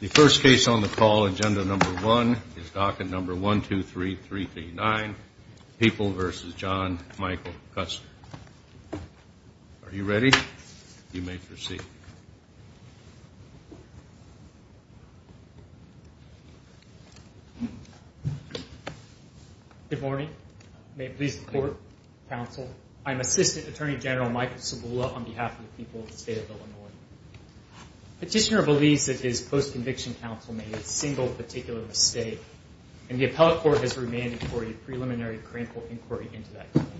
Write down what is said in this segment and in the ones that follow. The first case on the call, agenda number one, is docket number 123339, People v. John Michael Custer. Are you ready? You may proceed. Good morning. May it please the court, counsel. I'm Assistant Attorney General Michael Cibula on behalf of the people of the state of Illinois. Petitioner believes that his post-conviction counsel made a single particular mistake, and the appellate court has remanded for a preliminary criminal inquiry into that claim.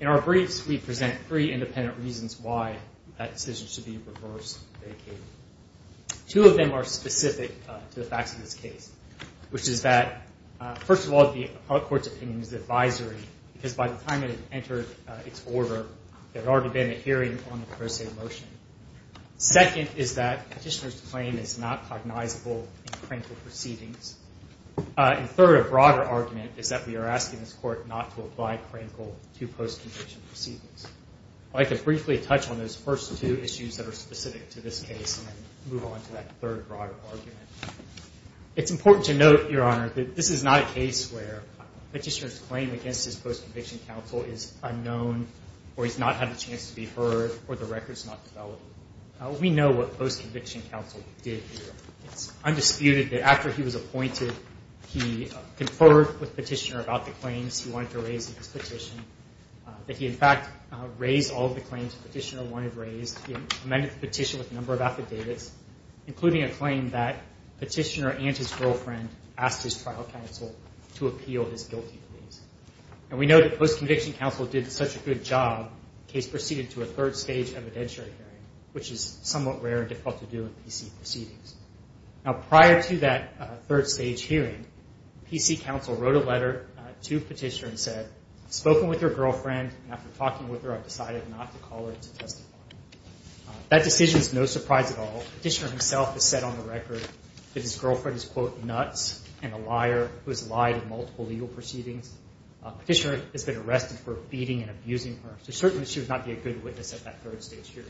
In our briefs, we present three independent reasons why that decision should be reversed or vacated. Two of them are specific to the facts of this case, which is that, first of all, the appellate court's opinion is advisory, because by the time it had entered its order, there had already been a hearing on the pro se motion. Second is that Petitioner's claim is not cognizable in Crankle proceedings. And third, a broader argument, is that we are asking this court not to apply Crankle to post-conviction proceedings. I'd like to briefly touch on those first two issues that are specific to this case and then move on to that third broader argument. It's important to note, Your Honor, that this is not a case where Petitioner's claim against his post-conviction counsel is unknown or he's not had a chance to be heard or the record's not developed. We know what post-conviction counsel did here. It's undisputed that after he was appointed, he conferred with Petitioner about the claims he wanted to raise in his petition, that he, in fact, raised all of the claims Petitioner wanted raised. He amended the petition with a number of affidavits, including a claim that Petitioner and his girlfriend asked his trial counsel to appeal his guilty pleas. And we know that post-conviction counsel did such a good job, the case proceeded to a third-stage evidentiary hearing, which is somewhat rare and difficult to do in PC proceedings. Now, prior to that third-stage hearing, PC counsel wrote a letter to Petitioner and said, I've spoken with your girlfriend, and after talking with her, I've decided not to call her to testify. That decision is no surprise at all. Petitioner himself has said on the record that his girlfriend is, quote, and a liar who has lied in multiple legal proceedings. Petitioner has been arrested for beating and abusing her, so certainly she would not be a good witness at that third-stage hearing.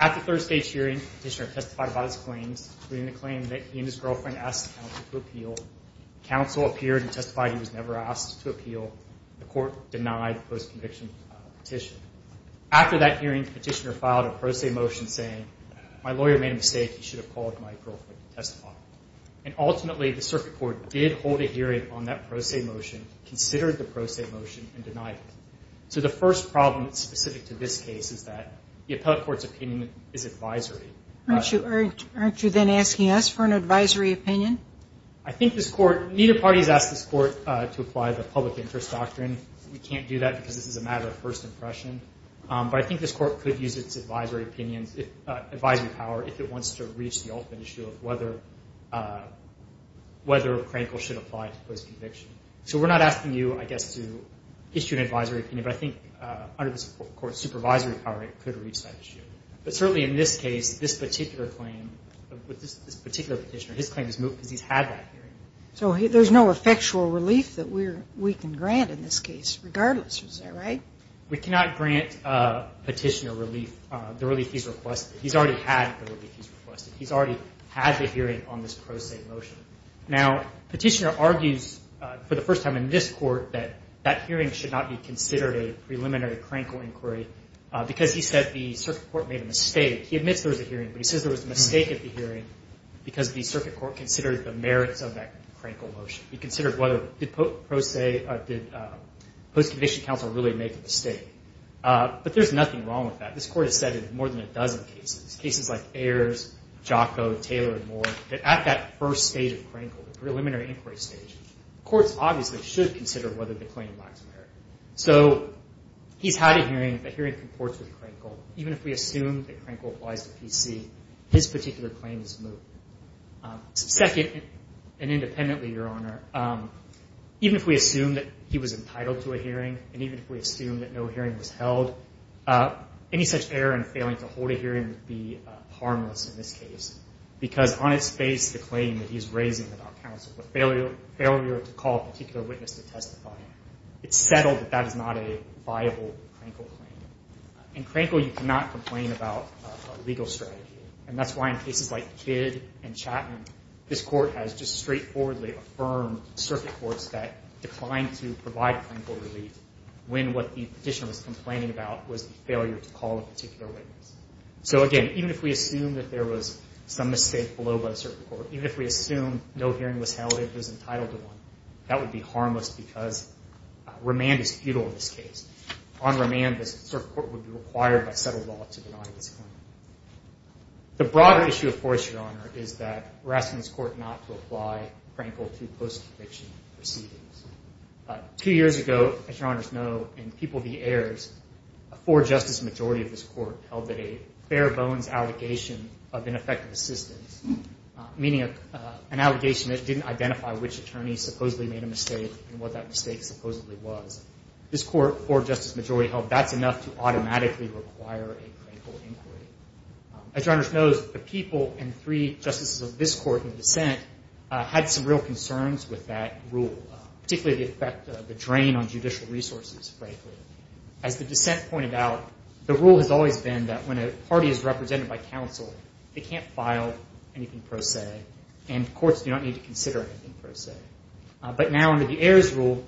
At the third-stage hearing, Petitioner testified about his claims, including the claim that he and his girlfriend asked counsel to appeal. Counsel appeared and testified he was never asked to appeal. The court denied the post-conviction petition. After that hearing, Petitioner filed a pro se motion saying, my lawyer made a mistake, he should have called my girlfriend to testify. And ultimately, the circuit court did hold a hearing on that pro se motion, considered the pro se motion, and denied it. So the first problem specific to this case is that the appellate court's opinion is advisory. Aren't you then asking us for an advisory opinion? I think this court, neither party has asked this court to apply the public interest doctrine. We can't do that because this is a matter of first impression. But I think this court could use its advisory opinions, advisory power, if it wants to reach the ultimate issue of whether Crankle should apply to post-conviction. So we're not asking you, I guess, to issue an advisory opinion. But I think under this court's supervisory power, it could reach that issue. But certainly in this case, this particular claim, this particular Petitioner, his claim is moved because he's had that hearing. So there's no effectual relief that we can grant in this case, regardless, is that right? We cannot grant Petitioner relief, the relief he's requested. He's already had the hearing on this Pro Se motion. Now, Petitioner argues, for the first time in this court, that that hearing should not be considered a preliminary Crankle inquiry because he said the circuit court made a mistake. He admits there was a hearing, but he says there was a mistake at the hearing because the circuit court considered the merits of that Crankle motion. He considered whether did Post-Conviction Counsel really make a mistake. But there's nothing wrong with that. This court has said in more than a dozen cases, cases like Ayers, Jocko, Taylor, and more, that at that first stage of Crankle, the preliminary inquiry stage, courts obviously should consider whether the claim lacks merit. So he's had a hearing. The hearing comports with Crankle. Even if we assume that Crankle applies to PC, his particular claim is moved. Second, and independently, Your Honor, even if we assume that he was entitled to a hearing and even if we assume that no hearing was held, any such error in failing to hold a hearing would be harmless in this case because on its face, the claim that he's raising about counsel, the failure to call a particular witness to testify, it's settled that that is not a viable Crankle claim. In Crankle, you cannot complain about a legal strategy, and that's why in cases like Kidd and Chapman, this court has just straightforwardly affirmed circuit courts that declined to provide Crankle relief when what the petitioner was complaining about was the failure to call a particular witness. So again, even if we assume that there was some mistake below by the circuit court, even if we assume no hearing was held and he was entitled to one, that would be harmless because remand is futile in this case. On remand, the circuit court would be required by settled law to deny this claim. The broader issue, of course, Your Honor, is that we're asking this court not to apply Crankle to post-conviction proceedings. Two years ago, as Your Honors know, in People v. Ayers, a four-justice majority of this court held that a fair bones allegation of ineffective assistance, meaning an allegation that didn't identify which attorney supposedly made a mistake and what that mistake supposedly was. This court, four-justice majority, held that's enough to automatically require a Crankle inquiry. As Your Honors knows, the People and three justices of this court in dissent had some real concerns with that rule, particularly the effect of the drain on judicial resources, frankly. As the dissent pointed out, the rule has always been that when a party is represented by counsel, they can't file anything pro se, and courts do not need to consider anything pro se. But now under the Ayers rule,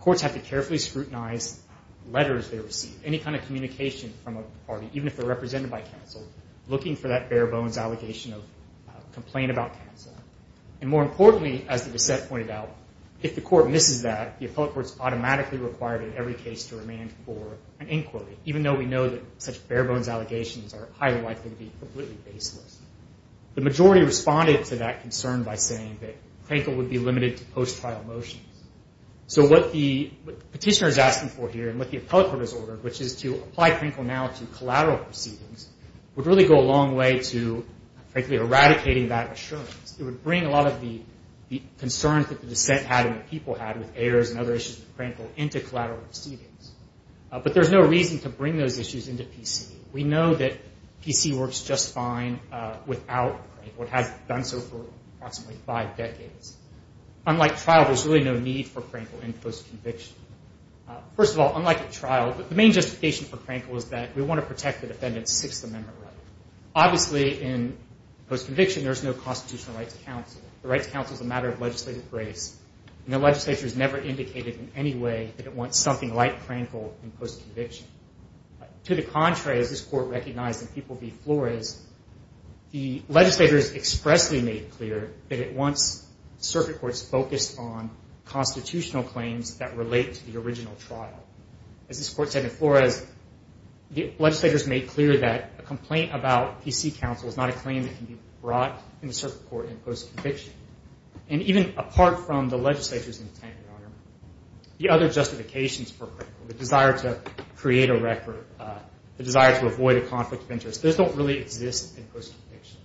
courts have to carefully scrutinize letters they receive, any kind of communication from a party, even if they're represented by counsel, looking for that fair bones allegation of complaint about counsel. And more importantly, as the dissent pointed out, if the court misses that, the appellate court is automatically required in every case to remand for an inquiry, even though we know that such fair bones allegations are highly likely to be completely baseless. The majority responded to that concern by saying that Crankle would be limited to post-trial motions. So what the petitioner is asking for here and what the appellate court has ordered, which is to apply Crankle now to collateral proceedings, would really go a long way to eradicating that assurance. It would bring a lot of the concerns that the dissent had and the People had with Ayers and other issues with Crankle into collateral proceedings. But there's no reason to bring those issues into PC. We know that PC works just fine without Crankle. It has done so for approximately five decades. Unlike trial, there's really no need for Crankle in post-conviction. First of all, unlike at trial, the main justification for Crankle is that we want to protect the defendant's Sixth Amendment right. Obviously, in post-conviction, there's no constitutional right to counsel. The right to counsel is a matter of legislative grace, and the legislature has never indicated in any way that it wants something like Crankle in post-conviction. To the contrary, as this court recognized in People v. Flores, the legislators expressly made clear that it wants circuit courts focused on constitutional claims that relate to the original trial. As this court said in Flores, the legislators made clear that a complaint about PC counsel is not a claim that can be brought in the circuit court in post-conviction. Even apart from the legislature's intent, the other justifications for Crankle, the desire to create a record, the desire to avoid a conflict of interest, those don't really exist in post-conviction.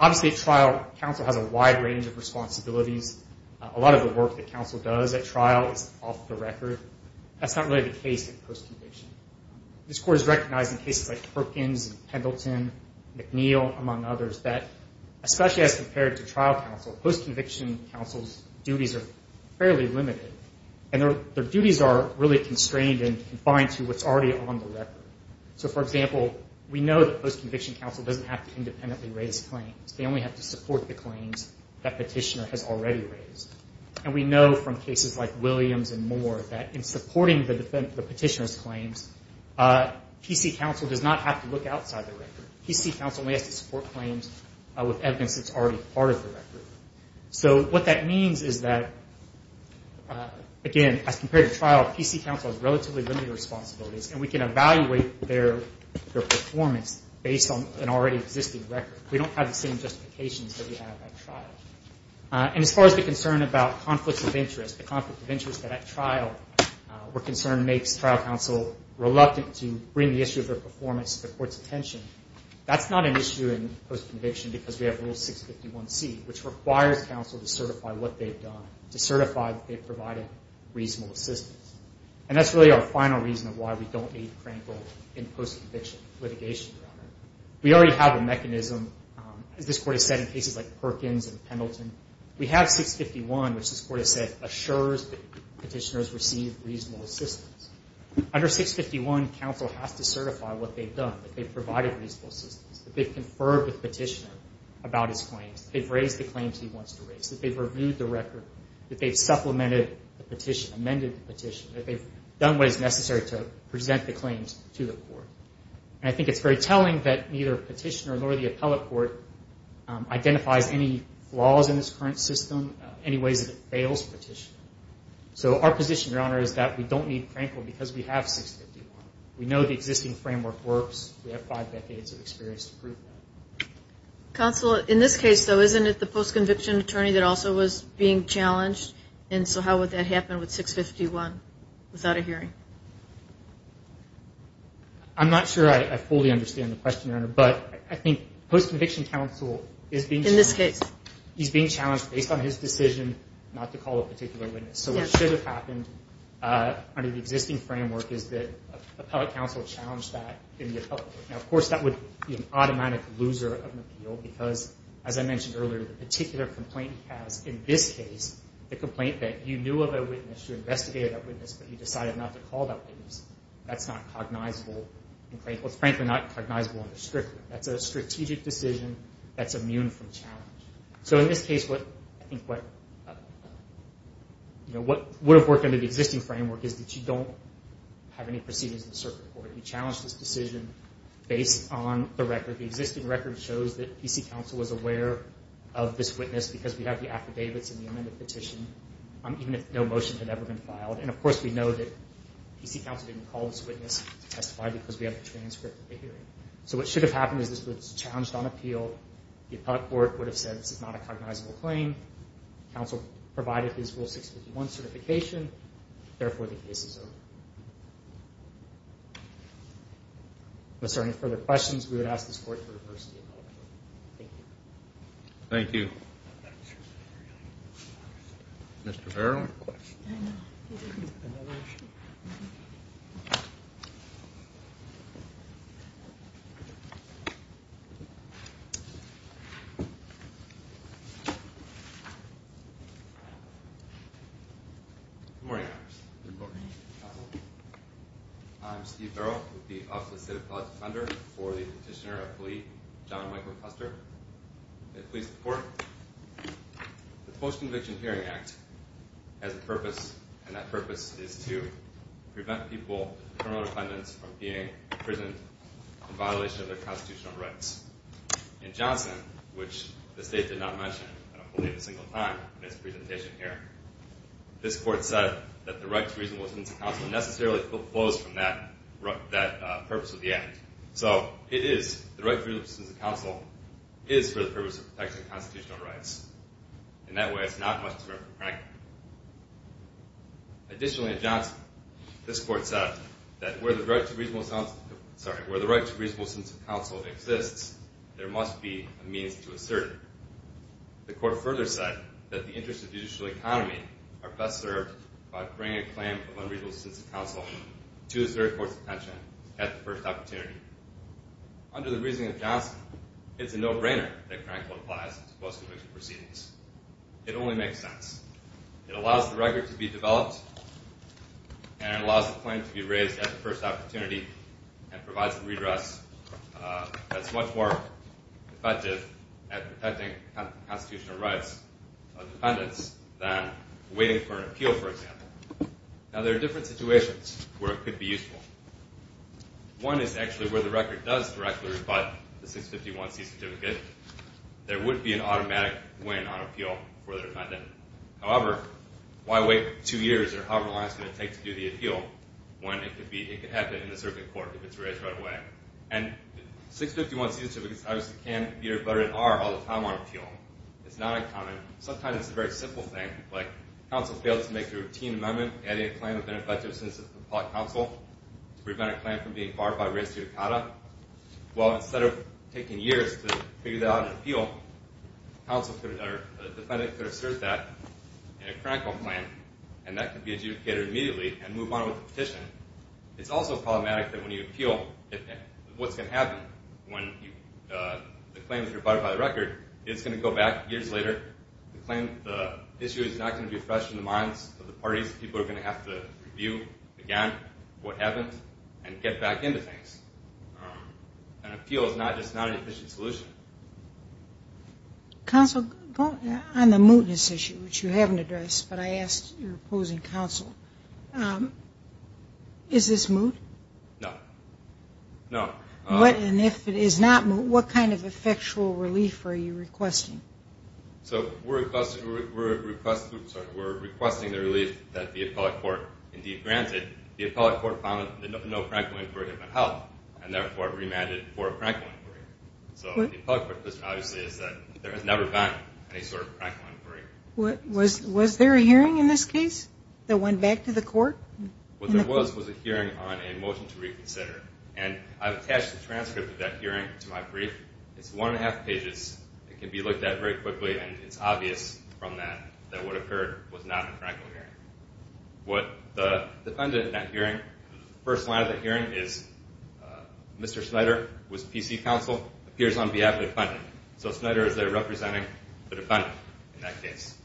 Obviously, at trial, counsel has a wide range of responsibilities. A lot of the work that counsel does at trial is off the record. That's not really the case in post-conviction. This court has recognized in cases like Perkins and Pendleton, McNeill, among others, that especially as compared to trial counsel, post-conviction counsel's duties are fairly limited, and their duties are really constrained and confined to what's already on the record. For example, we know that post-conviction counsel doesn't have to independently raise claims. They only have to support the claims that petitioner has already raised. We know from cases like Williams and more that in supporting the petitioner's claims, PC counsel does not have to look outside the record. PC counsel only has to support claims with evidence that's already part of the record. What that means is that, again, as compared to trial, PC counsel has relatively limited responsibilities, and we can evaluate their performance based on an already existing record. We don't have the same justifications that we have at trial. And as far as the concern about conflicts of interest, the conflict of interest at trial, where concern makes trial counsel reluctant to bring the issue of their performance to the court's attention, that's not an issue in post-conviction because we have Rule 651C, which requires counsel to certify what they've done, to certify that they've provided reasonable assistance. And that's really our final reason of why we don't need Crankle in post-conviction litigation, Your Honor. We already have a mechanism, as this Court has said, in cases like Perkins and Pendleton. We have 651, which this Court has said assures that petitioners receive reasonable assistance. Under 651, counsel has to certify what they've done, that they've provided reasonable assistance, that they've conferred with petitioner about his claims, that they've raised the claims he wants to raise, that they've reviewed the record, that they've supplemented the petition, amended the petition, that they've done what is necessary to present the claims to the court. And I think it's very telling that neither petitioner nor the appellate court identifies any flaws in this current system, any ways that it fails petitioner. So our position, Your Honor, is that we don't need Crankle because we have 651. We know the existing framework works. We have five decades of experience to prove that. Counsel, in this case, though, isn't it the post-conviction attorney that also was being challenged? And so how would that happen with 651 without a hearing? I'm not sure I fully understand the question, Your Honor, but I think post-conviction counsel is being challenged. In this case. He's being challenged based on his decision not to call a particular witness. So what should have happened under the existing framework is that appellate counsel challenged that in the appellate court. Now, of course, that would be an automatic loser of an appeal because, as I mentioned earlier, the particular complaint he has in this case, the complaint that you knew of a witness, you investigated that witness, but you decided not to call that witness, that's not cognizable in Crankle. It's frankly not cognizable under Strickland. That's a strategic decision that's immune from challenge. So in this case, I think what would have worked under the existing framework is that you don't have any proceedings in the circuit court. You challenge this decision based on the record. The existing record shows that PC counsel was aware of this witness because we have the affidavits and the amended petition, even if no motion had ever been filed. And, of course, we know that PC counsel didn't call this witness to testify because we have the transcript of the hearing. So what should have happened is this was challenged on appeal. The appellate court would have said this is not a cognizable claim. Counsel provided his Rule 651 certification. Therefore, the case is over. If there are any further questions, we would ask this Court to reverse the appellate court. Thank you. Thank you. Mr. Farrell? I have a question. Good morning, Congress. Good morning. Counsel? I'm Steve Farrell with the Office of the State Appellate Defender for the Petitioner Appellee, John Michael Custer. May it please the Court. The Post-Conviction Hearing Act has a purpose, and that purpose is to prevent people, criminal defendants, from being imprisoned in violation of their constitutional rights. In Johnson, which the State did not mention, I don't believe a single time in its presentation here, this Court said that the right to reasonableness of counsel necessarily flows from that purpose of the Act. So, it is. The right to reasonableness of counsel is for the purpose of protecting constitutional rights. In that way, it's not much different from Frank. Additionally, in Johnson, this Court said that where the right to reasonableness of counsel exists, there must be a means to assert it. The Court further said that the interests of the judicial economy are best served by bringing a claim of unreasonable to a third court's attention at the first opportunity. Under the reasoning of Johnson, it's a no-brainer that Frank would apply to post-conviction proceedings. It only makes sense. It allows the record to be developed, and it allows the claim to be raised at the first opportunity, and provides a redress that's much more effective at protecting constitutional rights of defendants than waiting for an appeal, for example. Now, there are different situations where it could be useful. One is actually where the record does directly rebut the 651C certificate. There would be an automatic win on appeal for the defendant. However, why wait two years or however long it's going to take to do the appeal when it could happen in the serving court if it's raised right away? And 651C certificates obviously can be rebutted and are all the time on appeal. It's not uncommon. Sometimes it's a very simple thing, like counsel fails to make a routine amendment adding a claim of ineffectiveness to the public counsel to prevent a claim from being barred by race judicata. Well, instead of taking years to figure that out in an appeal, a defendant could assert that in a critical plan, and that could be adjudicated immediately and move on with the petition. It's also problematic that when you appeal, what's going to happen when the claim is rebutted by the record is going to go back years later. The claim, the issue is not going to be fresh in the minds of the parties. People are going to have to review again what happened and get back into things. An appeal is not just not an efficient solution. Counsel, on the mootness issue, which you haven't addressed, but I asked your opposing counsel, is this moot? No. No. And if it is not moot, what kind of effectual relief are you requesting? So we're requesting the relief that the appellate court indeed granted. The appellate court found that no practical inquiry could help and therefore remanded for a practical inquiry. So the appellate court's position obviously is that there has never been any sort of practical inquiry. Was there a hearing in this case that went back to the court? What there was was a hearing on a motion to reconsider. And I've attached the transcript of that hearing to my brief. It's one and a half pages. It can be looked at very quickly, and it's obvious from that that what occurred was not a practical hearing. What the defendant in that hearing, the first line of that hearing is, Mr. Snyder was PC counsel, appears on behalf of the defendant. So Snyder is there representing the defendant in that case.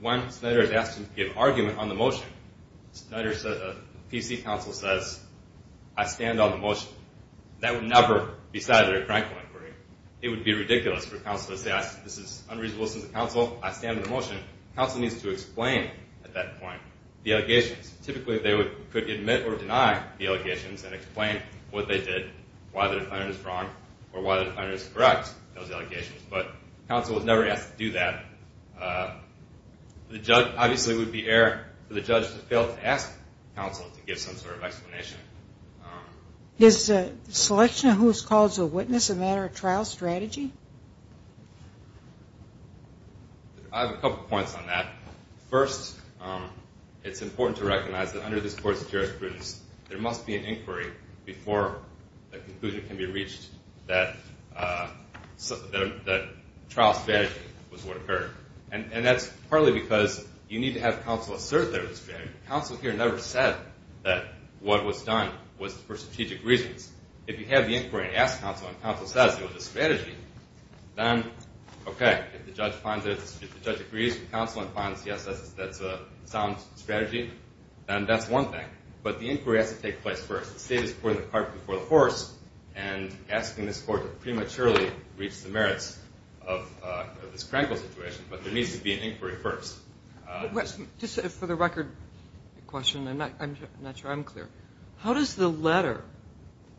When Snyder is asked to give argument on the motion, Snyder says, PC counsel says, I stand on the motion. That would never be cited in a practical inquiry. It would be ridiculous for counsel to say this is unreasonable. This is the counsel. I stand on the motion. Counsel needs to explain at that point the allegations. Typically they could admit or deny the allegations and explain what they did, why the defendant is wrong, or why the defendant is correct in those allegations. But counsel was never asked to do that. Obviously it would be error for the judge to fail to ask counsel to give some sort of explanation. Is the selection of who is called to witness a matter of trial strategy? I have a couple points on that. First, it's important to recognize that under this Court's jurisprudence, that trial strategy was what occurred. And that's partly because you need to have counsel assert their strategy. Counsel here never said that what was done was for strategic reasons. If you have the inquiry and ask counsel and counsel says it was a strategy, then, okay, if the judge agrees with counsel and finds, yes, that's a sound strategy, then that's one thing. But the inquiry has to take place first. The state is putting the cart before the horse and asking this Court to prematurely reach the merits of this crankle situation. But there needs to be an inquiry first. Just for the record question, I'm not sure I'm clear. How does the letter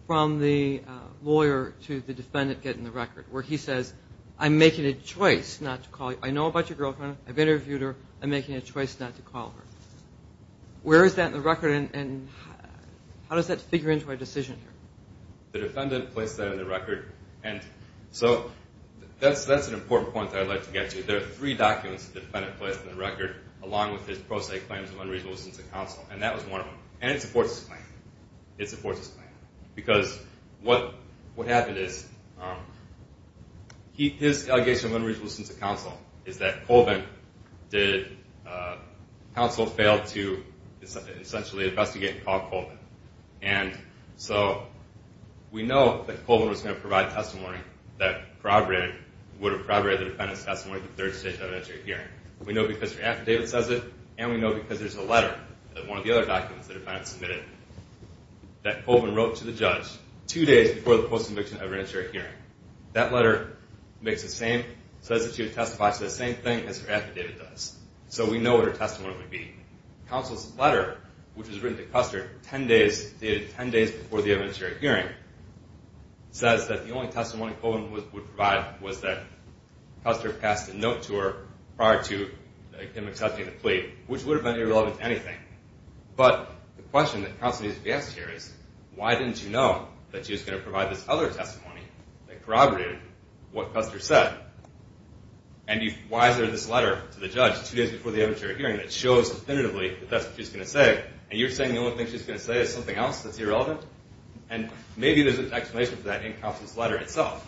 from the lawyer to the defendant get in the record where he says, I'm making a choice not to call you? I know about your girlfriend. I've interviewed her. I'm making a choice not to call her. Where is that in the record? And how does that figure into our decision here? The defendant placed that in the record. And so that's an important point that I'd like to get to. There are three documents the defendant placed in the record along with his pro se claims of unreasonable assistance to counsel, and that was one of them. And it supports his claim. It supports his claim. Because what happened is his allegation of unreasonable assistance to counsel is that Counsel failed to essentially investigate and call Colvin. And so we know that Colvin was going to provide testimony that would have corroborated the defendant's testimony at the third stage of an interior hearing. We know because your affidavit says it, and we know because there's a letter that one of the other documents the defendant submitted that Colvin wrote to the judge two days before the post-conviction of an interior hearing. That letter makes the same, says that she would testify to the same thing as her affidavit does. So we know what her testimony would be. Counsel's letter, which was written to Custer 10 days, dated 10 days before the interior hearing, says that the only testimony Colvin would provide was that Custer passed a note to her prior to him accepting the plea, which would have been irrelevant to anything. But the question that Counsel needs to be asked here is, why didn't you know that she was going to provide this other testimony that corroborated what Custer said? And why is there this letter to the judge two days before the interior hearing that shows definitively that that's what she's going to say, and you're saying the only thing she's going to say is something else that's irrelevant? And maybe there's an explanation for that in Counsel's letter itself.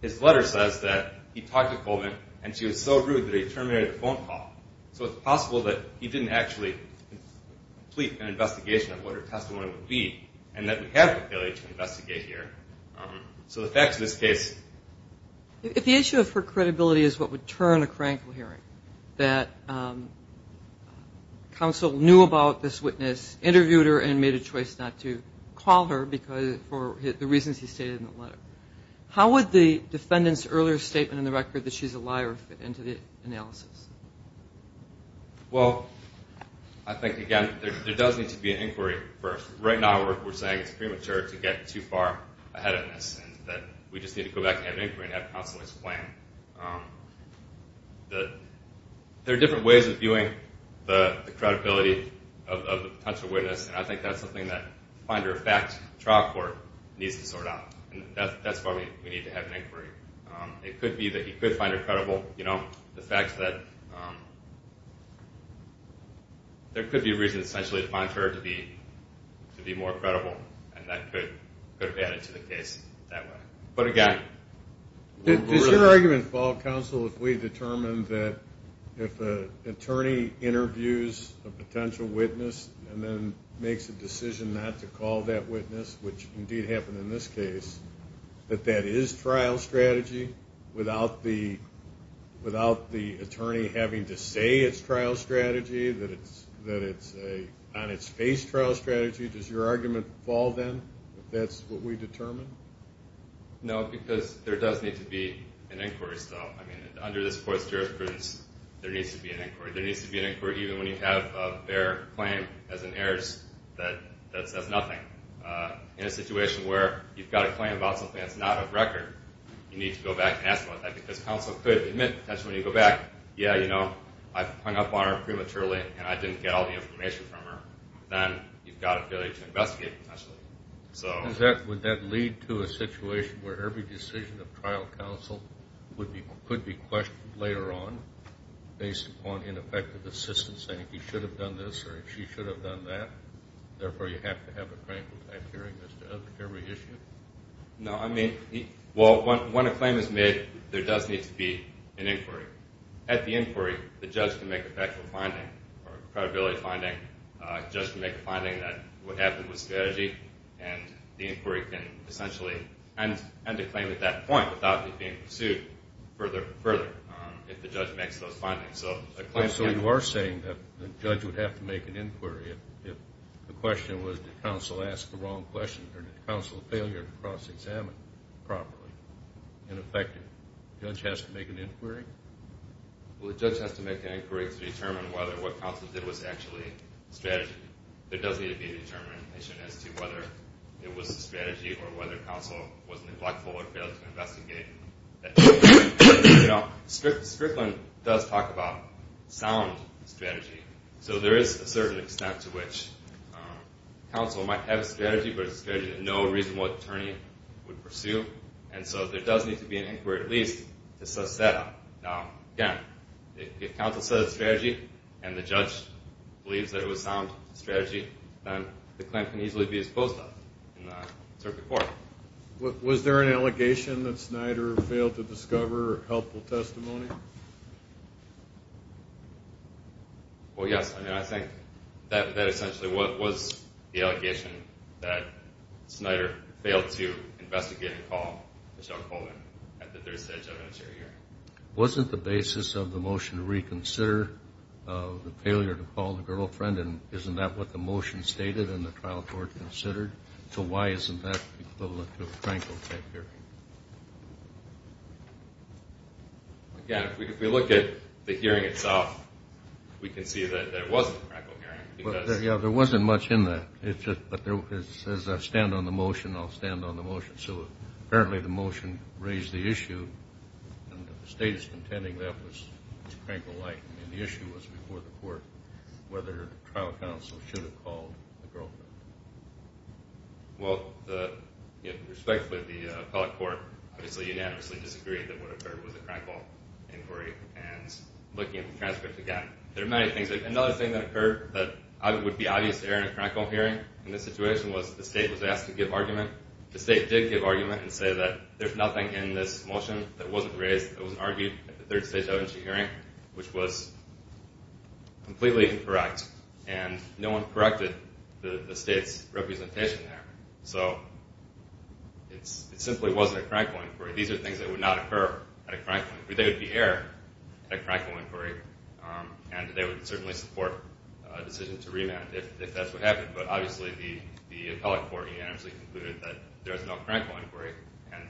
His letter says that he talked to Colvin, and she was so rude that he terminated the phone call. So it's possible that he didn't actually complete an investigation of what her testimony would be, and that we have the ability to investigate here. So the facts of this case... If the issue of her credibility is what would turn a crank in a hearing, that Counsel knew about this witness, interviewed her, and made a choice not to call her for the reasons he stated in the letter, how would the defendant's earlier statement in the record that she's a liar fit into the analysis? Well, I think, again, there does need to be an inquiry first. Right now we're saying it's premature to get too far ahead of this, and that we just need to go back and have an inquiry and have Counsel explain. There are different ways of viewing the credibility of a potential witness, and I think that's something that the finder of fact trial court needs to sort out. That's why we need to have an inquiry. It could be that he could find her credible. The fact that there could be a reason, essentially, to find her to be more credible, and that could have added to the case that way. But again... Is your argument, Counsel, if we determine that if an attorney interviews a potential witness and then makes a decision not to call that witness, which indeed happened in this case, that that is trial strategy without the attorney having to say it's trial strategy, that it's an on-its-face trial strategy? Does your argument fall, then, that that's what we determine? No, because there does need to be an inquiry still. I mean, under this Court's jurisprudence, there needs to be an inquiry. There needs to be an inquiry even when you have a fair claim as an heiress that says nothing. In a situation where you've got a claim about something that's not a record, you need to go back and ask about that. Because Counsel could admit, potentially, when you go back, yeah, you know, I hung up on her prematurely and I didn't get all the information from her. Then you've got an ability to investigate, potentially. Would that lead to a situation where every decision of trial counsel could be questioned later on based upon ineffective assistance, saying he should have done this or she should have done that? Therefore, you have to have a claim without hearing as to every issue? No, I mean, well, when a claim is made, there does need to be an inquiry. At the inquiry, the judge can make a factual finding or a credibility finding. The judge can make a finding that would happen with strategy, and the inquiry can essentially end the claim at that point without it being pursued further if the judge makes those findings. So you are saying that the judge would have to make an inquiry if the question was did counsel ask the wrong question or did counsel failure to cross-examine properly and effectively? The judge has to make an inquiry? Well, the judge has to make an inquiry to determine whether what counsel did was actually strategy. There does need to be a determination as to whether it was strategy or whether counsel was neglectful or failed to investigate. You know, Strickland does talk about sound strategy, so there is a certain extent to which counsel might have a strategy but it's a strategy that no reasonable attorney would pursue, and so there does need to be an inquiry at least to assess that. Now, again, if counsel says it's strategy and the judge believes that it was sound strategy, then the claim can easily be disposed of in the circuit court. Was there an allegation that Snyder failed to discover helpful testimony? Well, yes. I think that essentially was the allegation that Snyder failed to investigate and call Michelle Coleman at the third stage of an interior hearing. Wasn't the basis of the motion to reconsider the failure to call the girlfriend, and isn't that what the motion stated and the trial court considered? So why isn't that equivalent to a Krankel-type hearing? Again, if we look at the hearing itself, we can see that it wasn't a Krankel hearing. Yeah, there wasn't much in that. It says I stand on the motion, I'll stand on the motion. So apparently the motion raised the issue, and the state is contending that was Krankel-like. The issue was before the court whether the trial counsel should have called the girlfriend. Well, respectfully, the appellate court unanimously disagreed that what occurred was a Krankel inquiry. Looking at the transcripts again, there are many things. Another thing that occurred that would be obvious to hear in a Krankel hearing in this situation was the state was asked to give argument. The state did give argument and say that there's nothing in this motion that wasn't raised, that wasn't argued at the third stage of an interior hearing, which was completely incorrect. And no one corrected the state's representation there. So it simply wasn't a Krankel inquiry. These are things that would not occur at a Krankel inquiry. They would be air at a Krankel inquiry, and they would certainly support a decision to remand if that's what happened. But obviously the appellate court unanimously concluded that there is no Krankel inquiry. And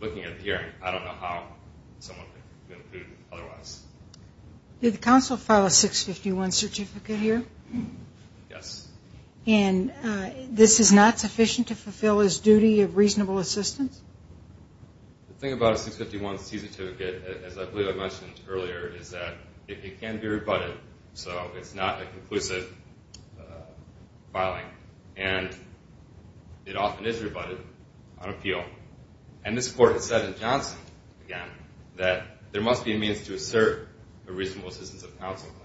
looking at the hearing, I don't know how someone could have concluded otherwise. Did the counsel file a 651 certificate here? Yes. And this is not sufficient to fulfill his duty of reasonable assistance? The thing about a 651C certificate, as I believe I mentioned earlier, is that it can be rebutted, so it's not a conclusive filing. And it often is rebutted on appeal. And this court has said in Johnson, again, that there must be a means to assert a reasonable assistance of counsel claim.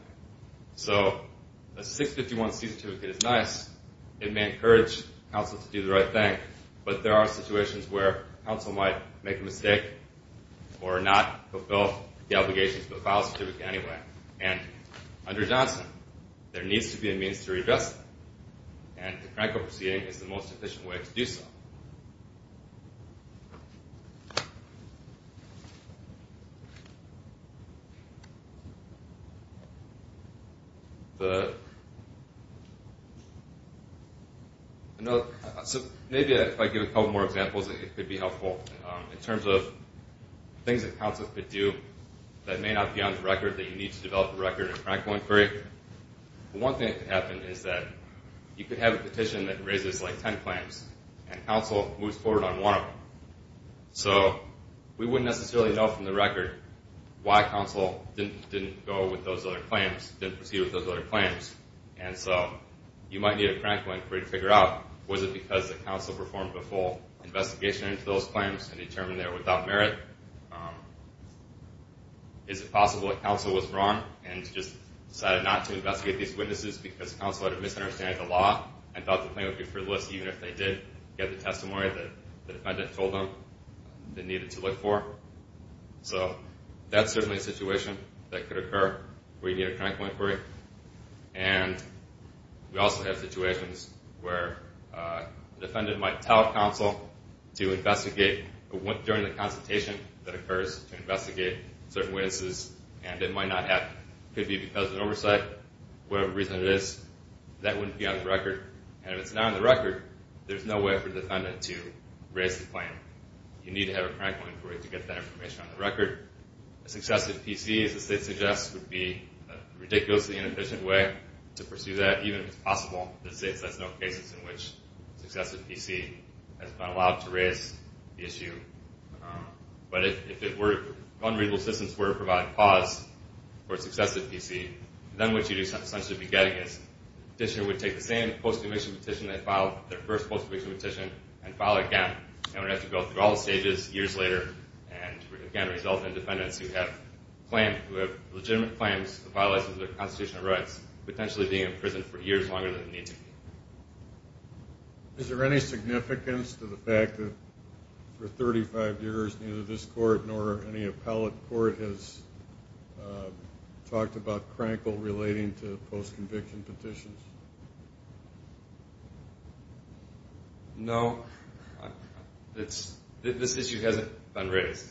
So a 651C certificate is nice. It may encourage counsel to do the right thing, but there are situations where counsel might make a mistake or not fulfill the obligations of the file certificate anyway. And under Johnson, there needs to be a means to redress that. And the Krankel proceeding is the most efficient way to do so. So maybe if I give a couple more examples, it could be helpful. In terms of things that counsel could do that may not be on the record that you need to develop a record in Krankel inquiry, one thing that could happen is that you could have a petition that raises, like, ten claims, and counsel moves forward on one of them. So we wouldn't necessarily know from the record why counsel didn't go with those other claims, didn't proceed with those other claims. And so you might need a Krankel inquiry to figure out, was it because the counsel performed a full investigation into those claims and determined they were without merit? Is it possible that counsel was wrong and just decided not to investigate these witnesses because counsel had a misunderstanding of the law and thought the claim would be frivolous even if they did get the testimony that the defendant told them they needed to look for? So that's certainly a situation that could occur where you need a Krankel inquiry. And we also have situations where the defendant might tell counsel to investigate during the consultation that occurs to investigate certain witnesses, and it might not happen. It could be because of oversight, whatever reason it is, that wouldn't be on the record. And if it's not on the record, there's no way for the defendant to raise the claim. You need to have a Krankel inquiry to get that information on the record. A successive PC, as the state suggests, would be a ridiculously inefficient way to pursue that, even if it's possible. There's no cases in which a successive PC has been allowed to raise the issue. But if unreasonable assistance were to provide pause for a successive PC, then what you'd essentially be getting is the petitioner would take the same post-conviction petition they filed, their first post-conviction petition, and file it again. And it would have to go through all the stages years later and again result in defendants who have legitimate claims that violate their constitutional rights potentially being in prison for years longer than they need to be. Is there any significance to the fact that for 35 years neither this court nor any appellate court has talked about Krankel relating to post-conviction petitions? No. This issue hasn't been raised.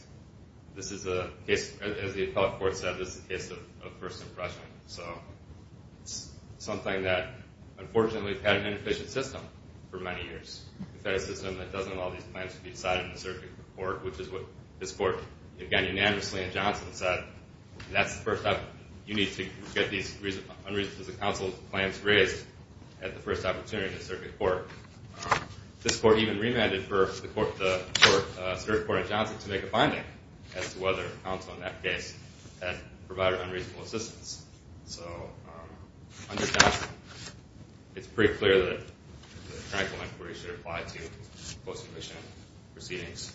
This is a case, as the appellate court said, this is a case of first impression. It's something that, unfortunately, has had an inefficient system for many years. A system that doesn't allow these claims to be decided in the circuit court, which is what this court, again, unanimously in Johnson, said. That's the first step. You need to get these unreasonable counsel claims raised at the first opportunity in the circuit court. This court even remanded for the circuit court in Johnson to make a finding as to whether counsel in that case had provided unreasonable assistance. So under Johnson it's pretty clear that the Krankel inquiry should apply to post-conviction proceedings.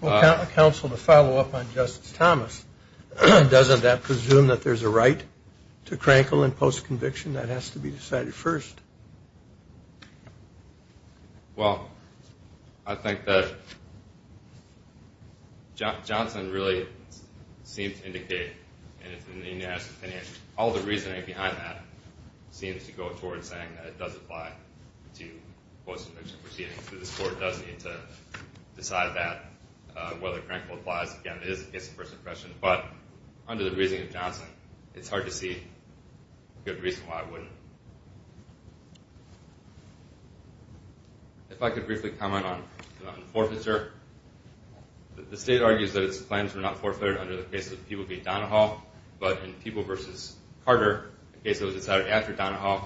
Counsel, to follow up on Justice Thomas, doesn't that presume that there's a right to Krankel in post-conviction that has to be decided first? Well, I think that Johnson really seems to indicate, and it's in the unanimous opinion, all the reasoning behind that seems to go towards saying that it does apply to post-conviction proceedings. This court does need to decide that, whether Krankel applies. Again, it is a case of first impression. But under the reasoning of Johnson, it's hard to see a good reason why it wouldn't. If I could briefly comment on forfeiture. The state argues that its claims were not forfeited under the case of Peeble v. Donahall. But in Peeble v. Carter, a case that was decided after Donahall,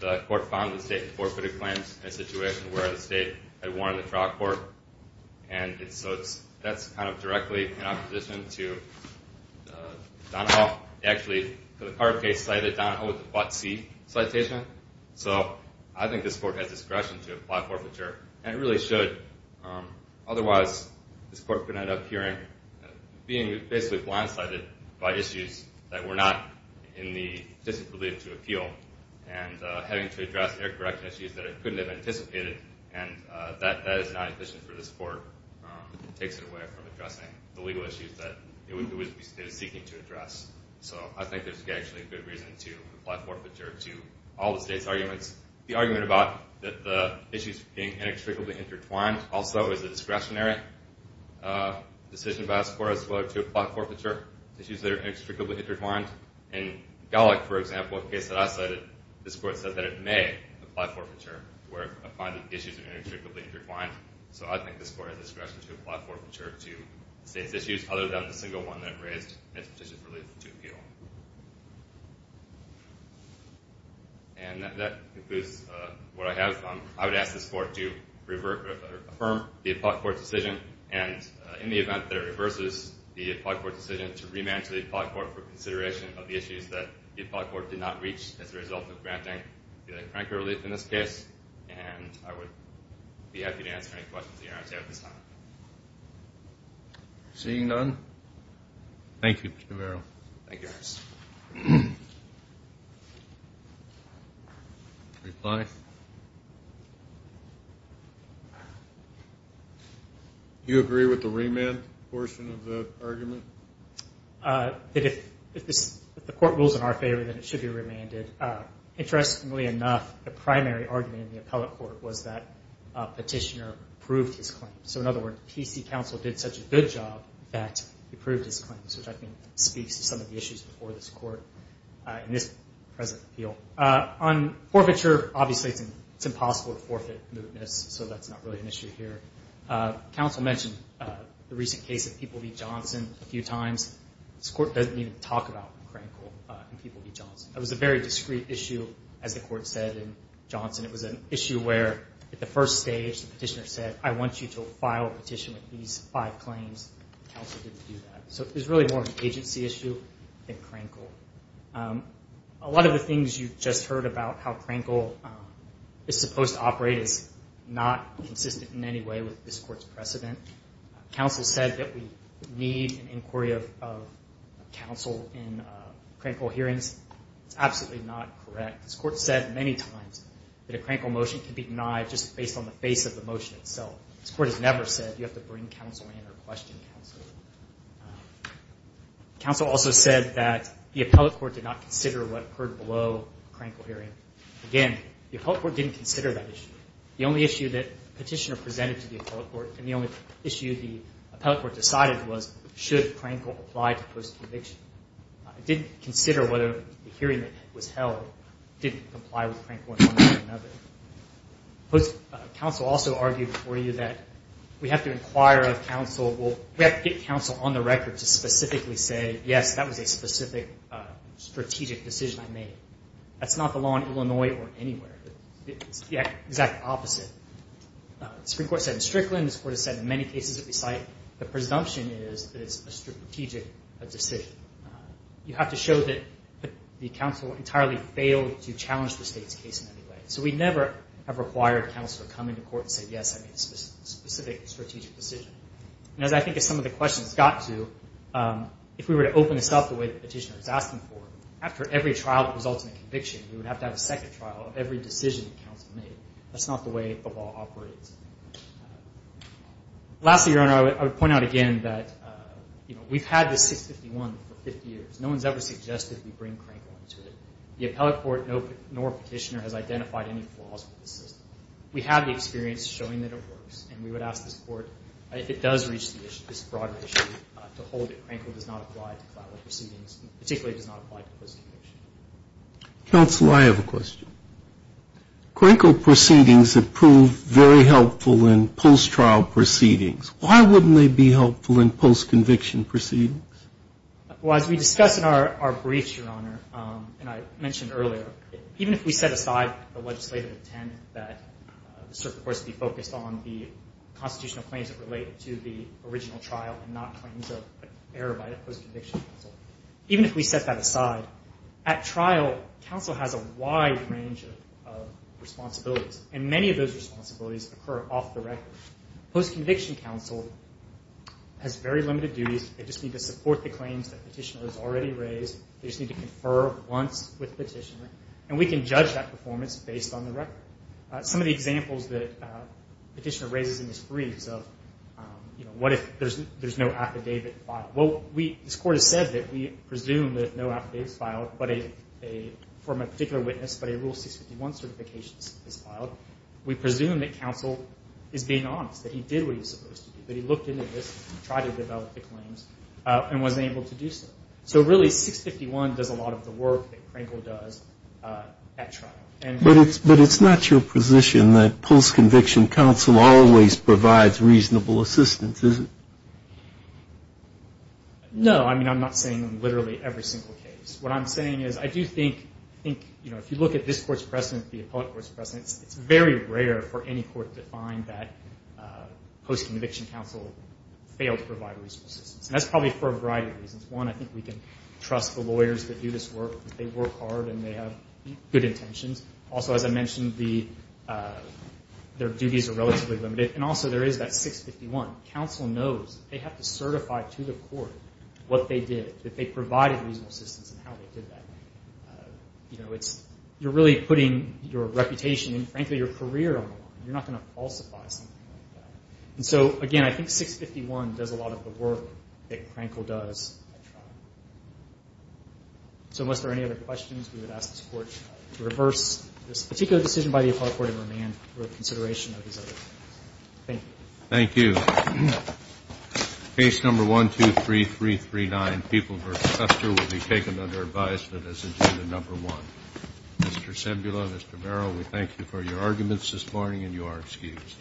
the court found the state forfeited claims in a situation where the state had warned the trial court. So that's kind of directly in opposition to Donahall. They actually, for the Carter case, cited Donahall with a Blot C citation. So I think this court has discretion to apply forfeiture, and it really should. Otherwise, this court could end up hearing being basically blindsided by issues that were not in the district's belief to appeal and having to address air-correction issues that it couldn't have anticipated. And that is not efficient for this court. It takes it away from addressing the legal issues that it is seeking to address. So I think there's actually good reason to apply forfeiture to all the state's arguments. The argument about the issues being inextricably intertwined also is a discretionary decision by this court as well to apply forfeiture to issues that are inextricably intertwined. In Gallick, for example, a case that I cited, this court said that it may apply forfeiture where it finds that the issues are inextricably intertwined. So I think this court has discretion to apply forfeiture to the state's issues other than the single one that it raised in its petition for relief to appeal. And that concludes what I have. I would ask this court to affirm the appellate court's decision and, in the event that it reverses the appellate court's decision, to remand to the appellate court for consideration of the issues that the appellate court did not reach as a result of granting the cranker relief in this case. And I would be happy to answer any questions that you might have at this time. Seeing none. Thank you, Mr. Vero. Thank you, Ernst. Reply. Do you agree with the remand portion of the argument? If the court rules in our favor, then it should be remanded. Interestingly enough, the primary argument in the appellate court was that a petitioner proved his claim. So, in other words, PC counsel did such a good job that he proved his claim, which I think speaks to some of the issues before this court in this present appeal. On forfeiture, obviously it's impossible to forfeit mootness, so that's not really an issue here. Counsel mentioned the recent case of People v. Johnson a few times. This court doesn't even talk about Crankle and People v. Johnson. That was a very discreet issue, as the court said, in Johnson. It was an issue where, at the first stage, the petitioner said, I want you to file a petition with these five claims. Counsel didn't do that. So it was really more of an agency issue than Crankle. A lot of the things you just heard about how Crankle is supposed to operate is not consistent in any way with this court's precedent. Counsel said that we need an inquiry of counsel in Crankle hearings. That's absolutely not correct. This court said many times that a Crankle motion can be denied just based on the face of the motion itself. This court has never said you have to bring counsel in or question counsel. Counsel also said that the appellate court did not consider what occurred below a Crankle hearing. Again, the appellate court didn't consider that issue. The only issue that the petitioner presented to the appellate court and the only issue the appellate court decided was, should Crankle apply to post-conviction. It didn't consider whether the hearing that was held didn't comply with Crankle in one way or another. Counsel also argued before you that we have to inquire of counsel. We have to get counsel on the record to specifically say, yes, that was a specific strategic decision I made. That's not the law in Illinois or anywhere. It's the exact opposite. The Supreme Court said in Strickland, this court has said in many cases that we cite, the presumption is that it's a strategic decision. You have to show that the counsel entirely failed to challenge the state's case in any way. So we never have required counsel to come into court and say, yes, I made a specific strategic decision. And as I think as some of the questions got to, if we were to open this up the way the petitioner was asking for, after every trial that results in a conviction, we would have to have a second trial of every decision the counsel made. That's not the way the law operates. Lastly, Your Honor, I would point out again that, you know, we've had this 651 for 50 years. No one's ever suggested we bring Crankle into it. The appellate court, nor petitioner, has identified any flaws with the system. We have the experience showing that it works, and we would ask this court, if it does reach this broader issue, to hold it. Crankle does not apply to clout or proceedings, and particularly does not apply to post-conviction. Counsel, I have a question. Crankle proceedings have proved very helpful in post-trial proceedings. Why wouldn't they be helpful in post-conviction proceedings? Well, as we discussed in our briefs, Your Honor, and I mentioned earlier, even if we set aside the legislative intent that the circuit court should be focused on the constitutional claims that relate to the original trial and not claims of error by the post-conviction counsel, even if we set that aside, at trial, counsel has a wide range of responsibilities, and many of those responsibilities occur off the record. Post-conviction counsel has very limited duties. They just need to support the claims that petitioner has already raised. They just need to confer once with petitioner, and we can judge that performance based on the record. Some of the examples that petitioner raises in his briefs of, you know, what if there's no affidavit filed? Well, this Court has said that we presume that no affidavit is filed from a particular witness, but a Rule 651 certification is filed. We presume that counsel is being honest, that he did what he was supposed to do, that he looked into this, tried to develop the claims, and was able to do so. So really, 651 does a lot of the work that Crankle does at trial. But it's not your position that post-conviction counsel always provides reasonable assistance, is it? No. I mean, I'm not saying in literally every single case. What I'm saying is I do think, you know, if you look at this Court's precedent, the appellate court's precedent, it's very rare for any court to find that post-conviction counsel failed to provide reasonable assistance, and that's probably for a variety of reasons. One, I think we can trust the lawyers that do this work. They work hard, and they have good intentions. Also, as I mentioned, their duties are relatively limited, and also there is that 651. Counsel knows they have to certify to the court what they did, that they provided reasonable assistance and how they did that. You know, you're really putting your reputation and, frankly, your career on the line. You're not going to falsify something like that. And so, again, I think 651 does a lot of the work that Crankle does at trial. So unless there are any other questions, we would ask this Court to reverse this particular decision by the appellate court in remand for consideration of these other matters. Thank you. Thank you. Case number 123339, People v. Hester, will be taken under advisement as agenda number one. Mr. Cimbula, Mr. Barrow, we thank you for your arguments this morning, and you are excused.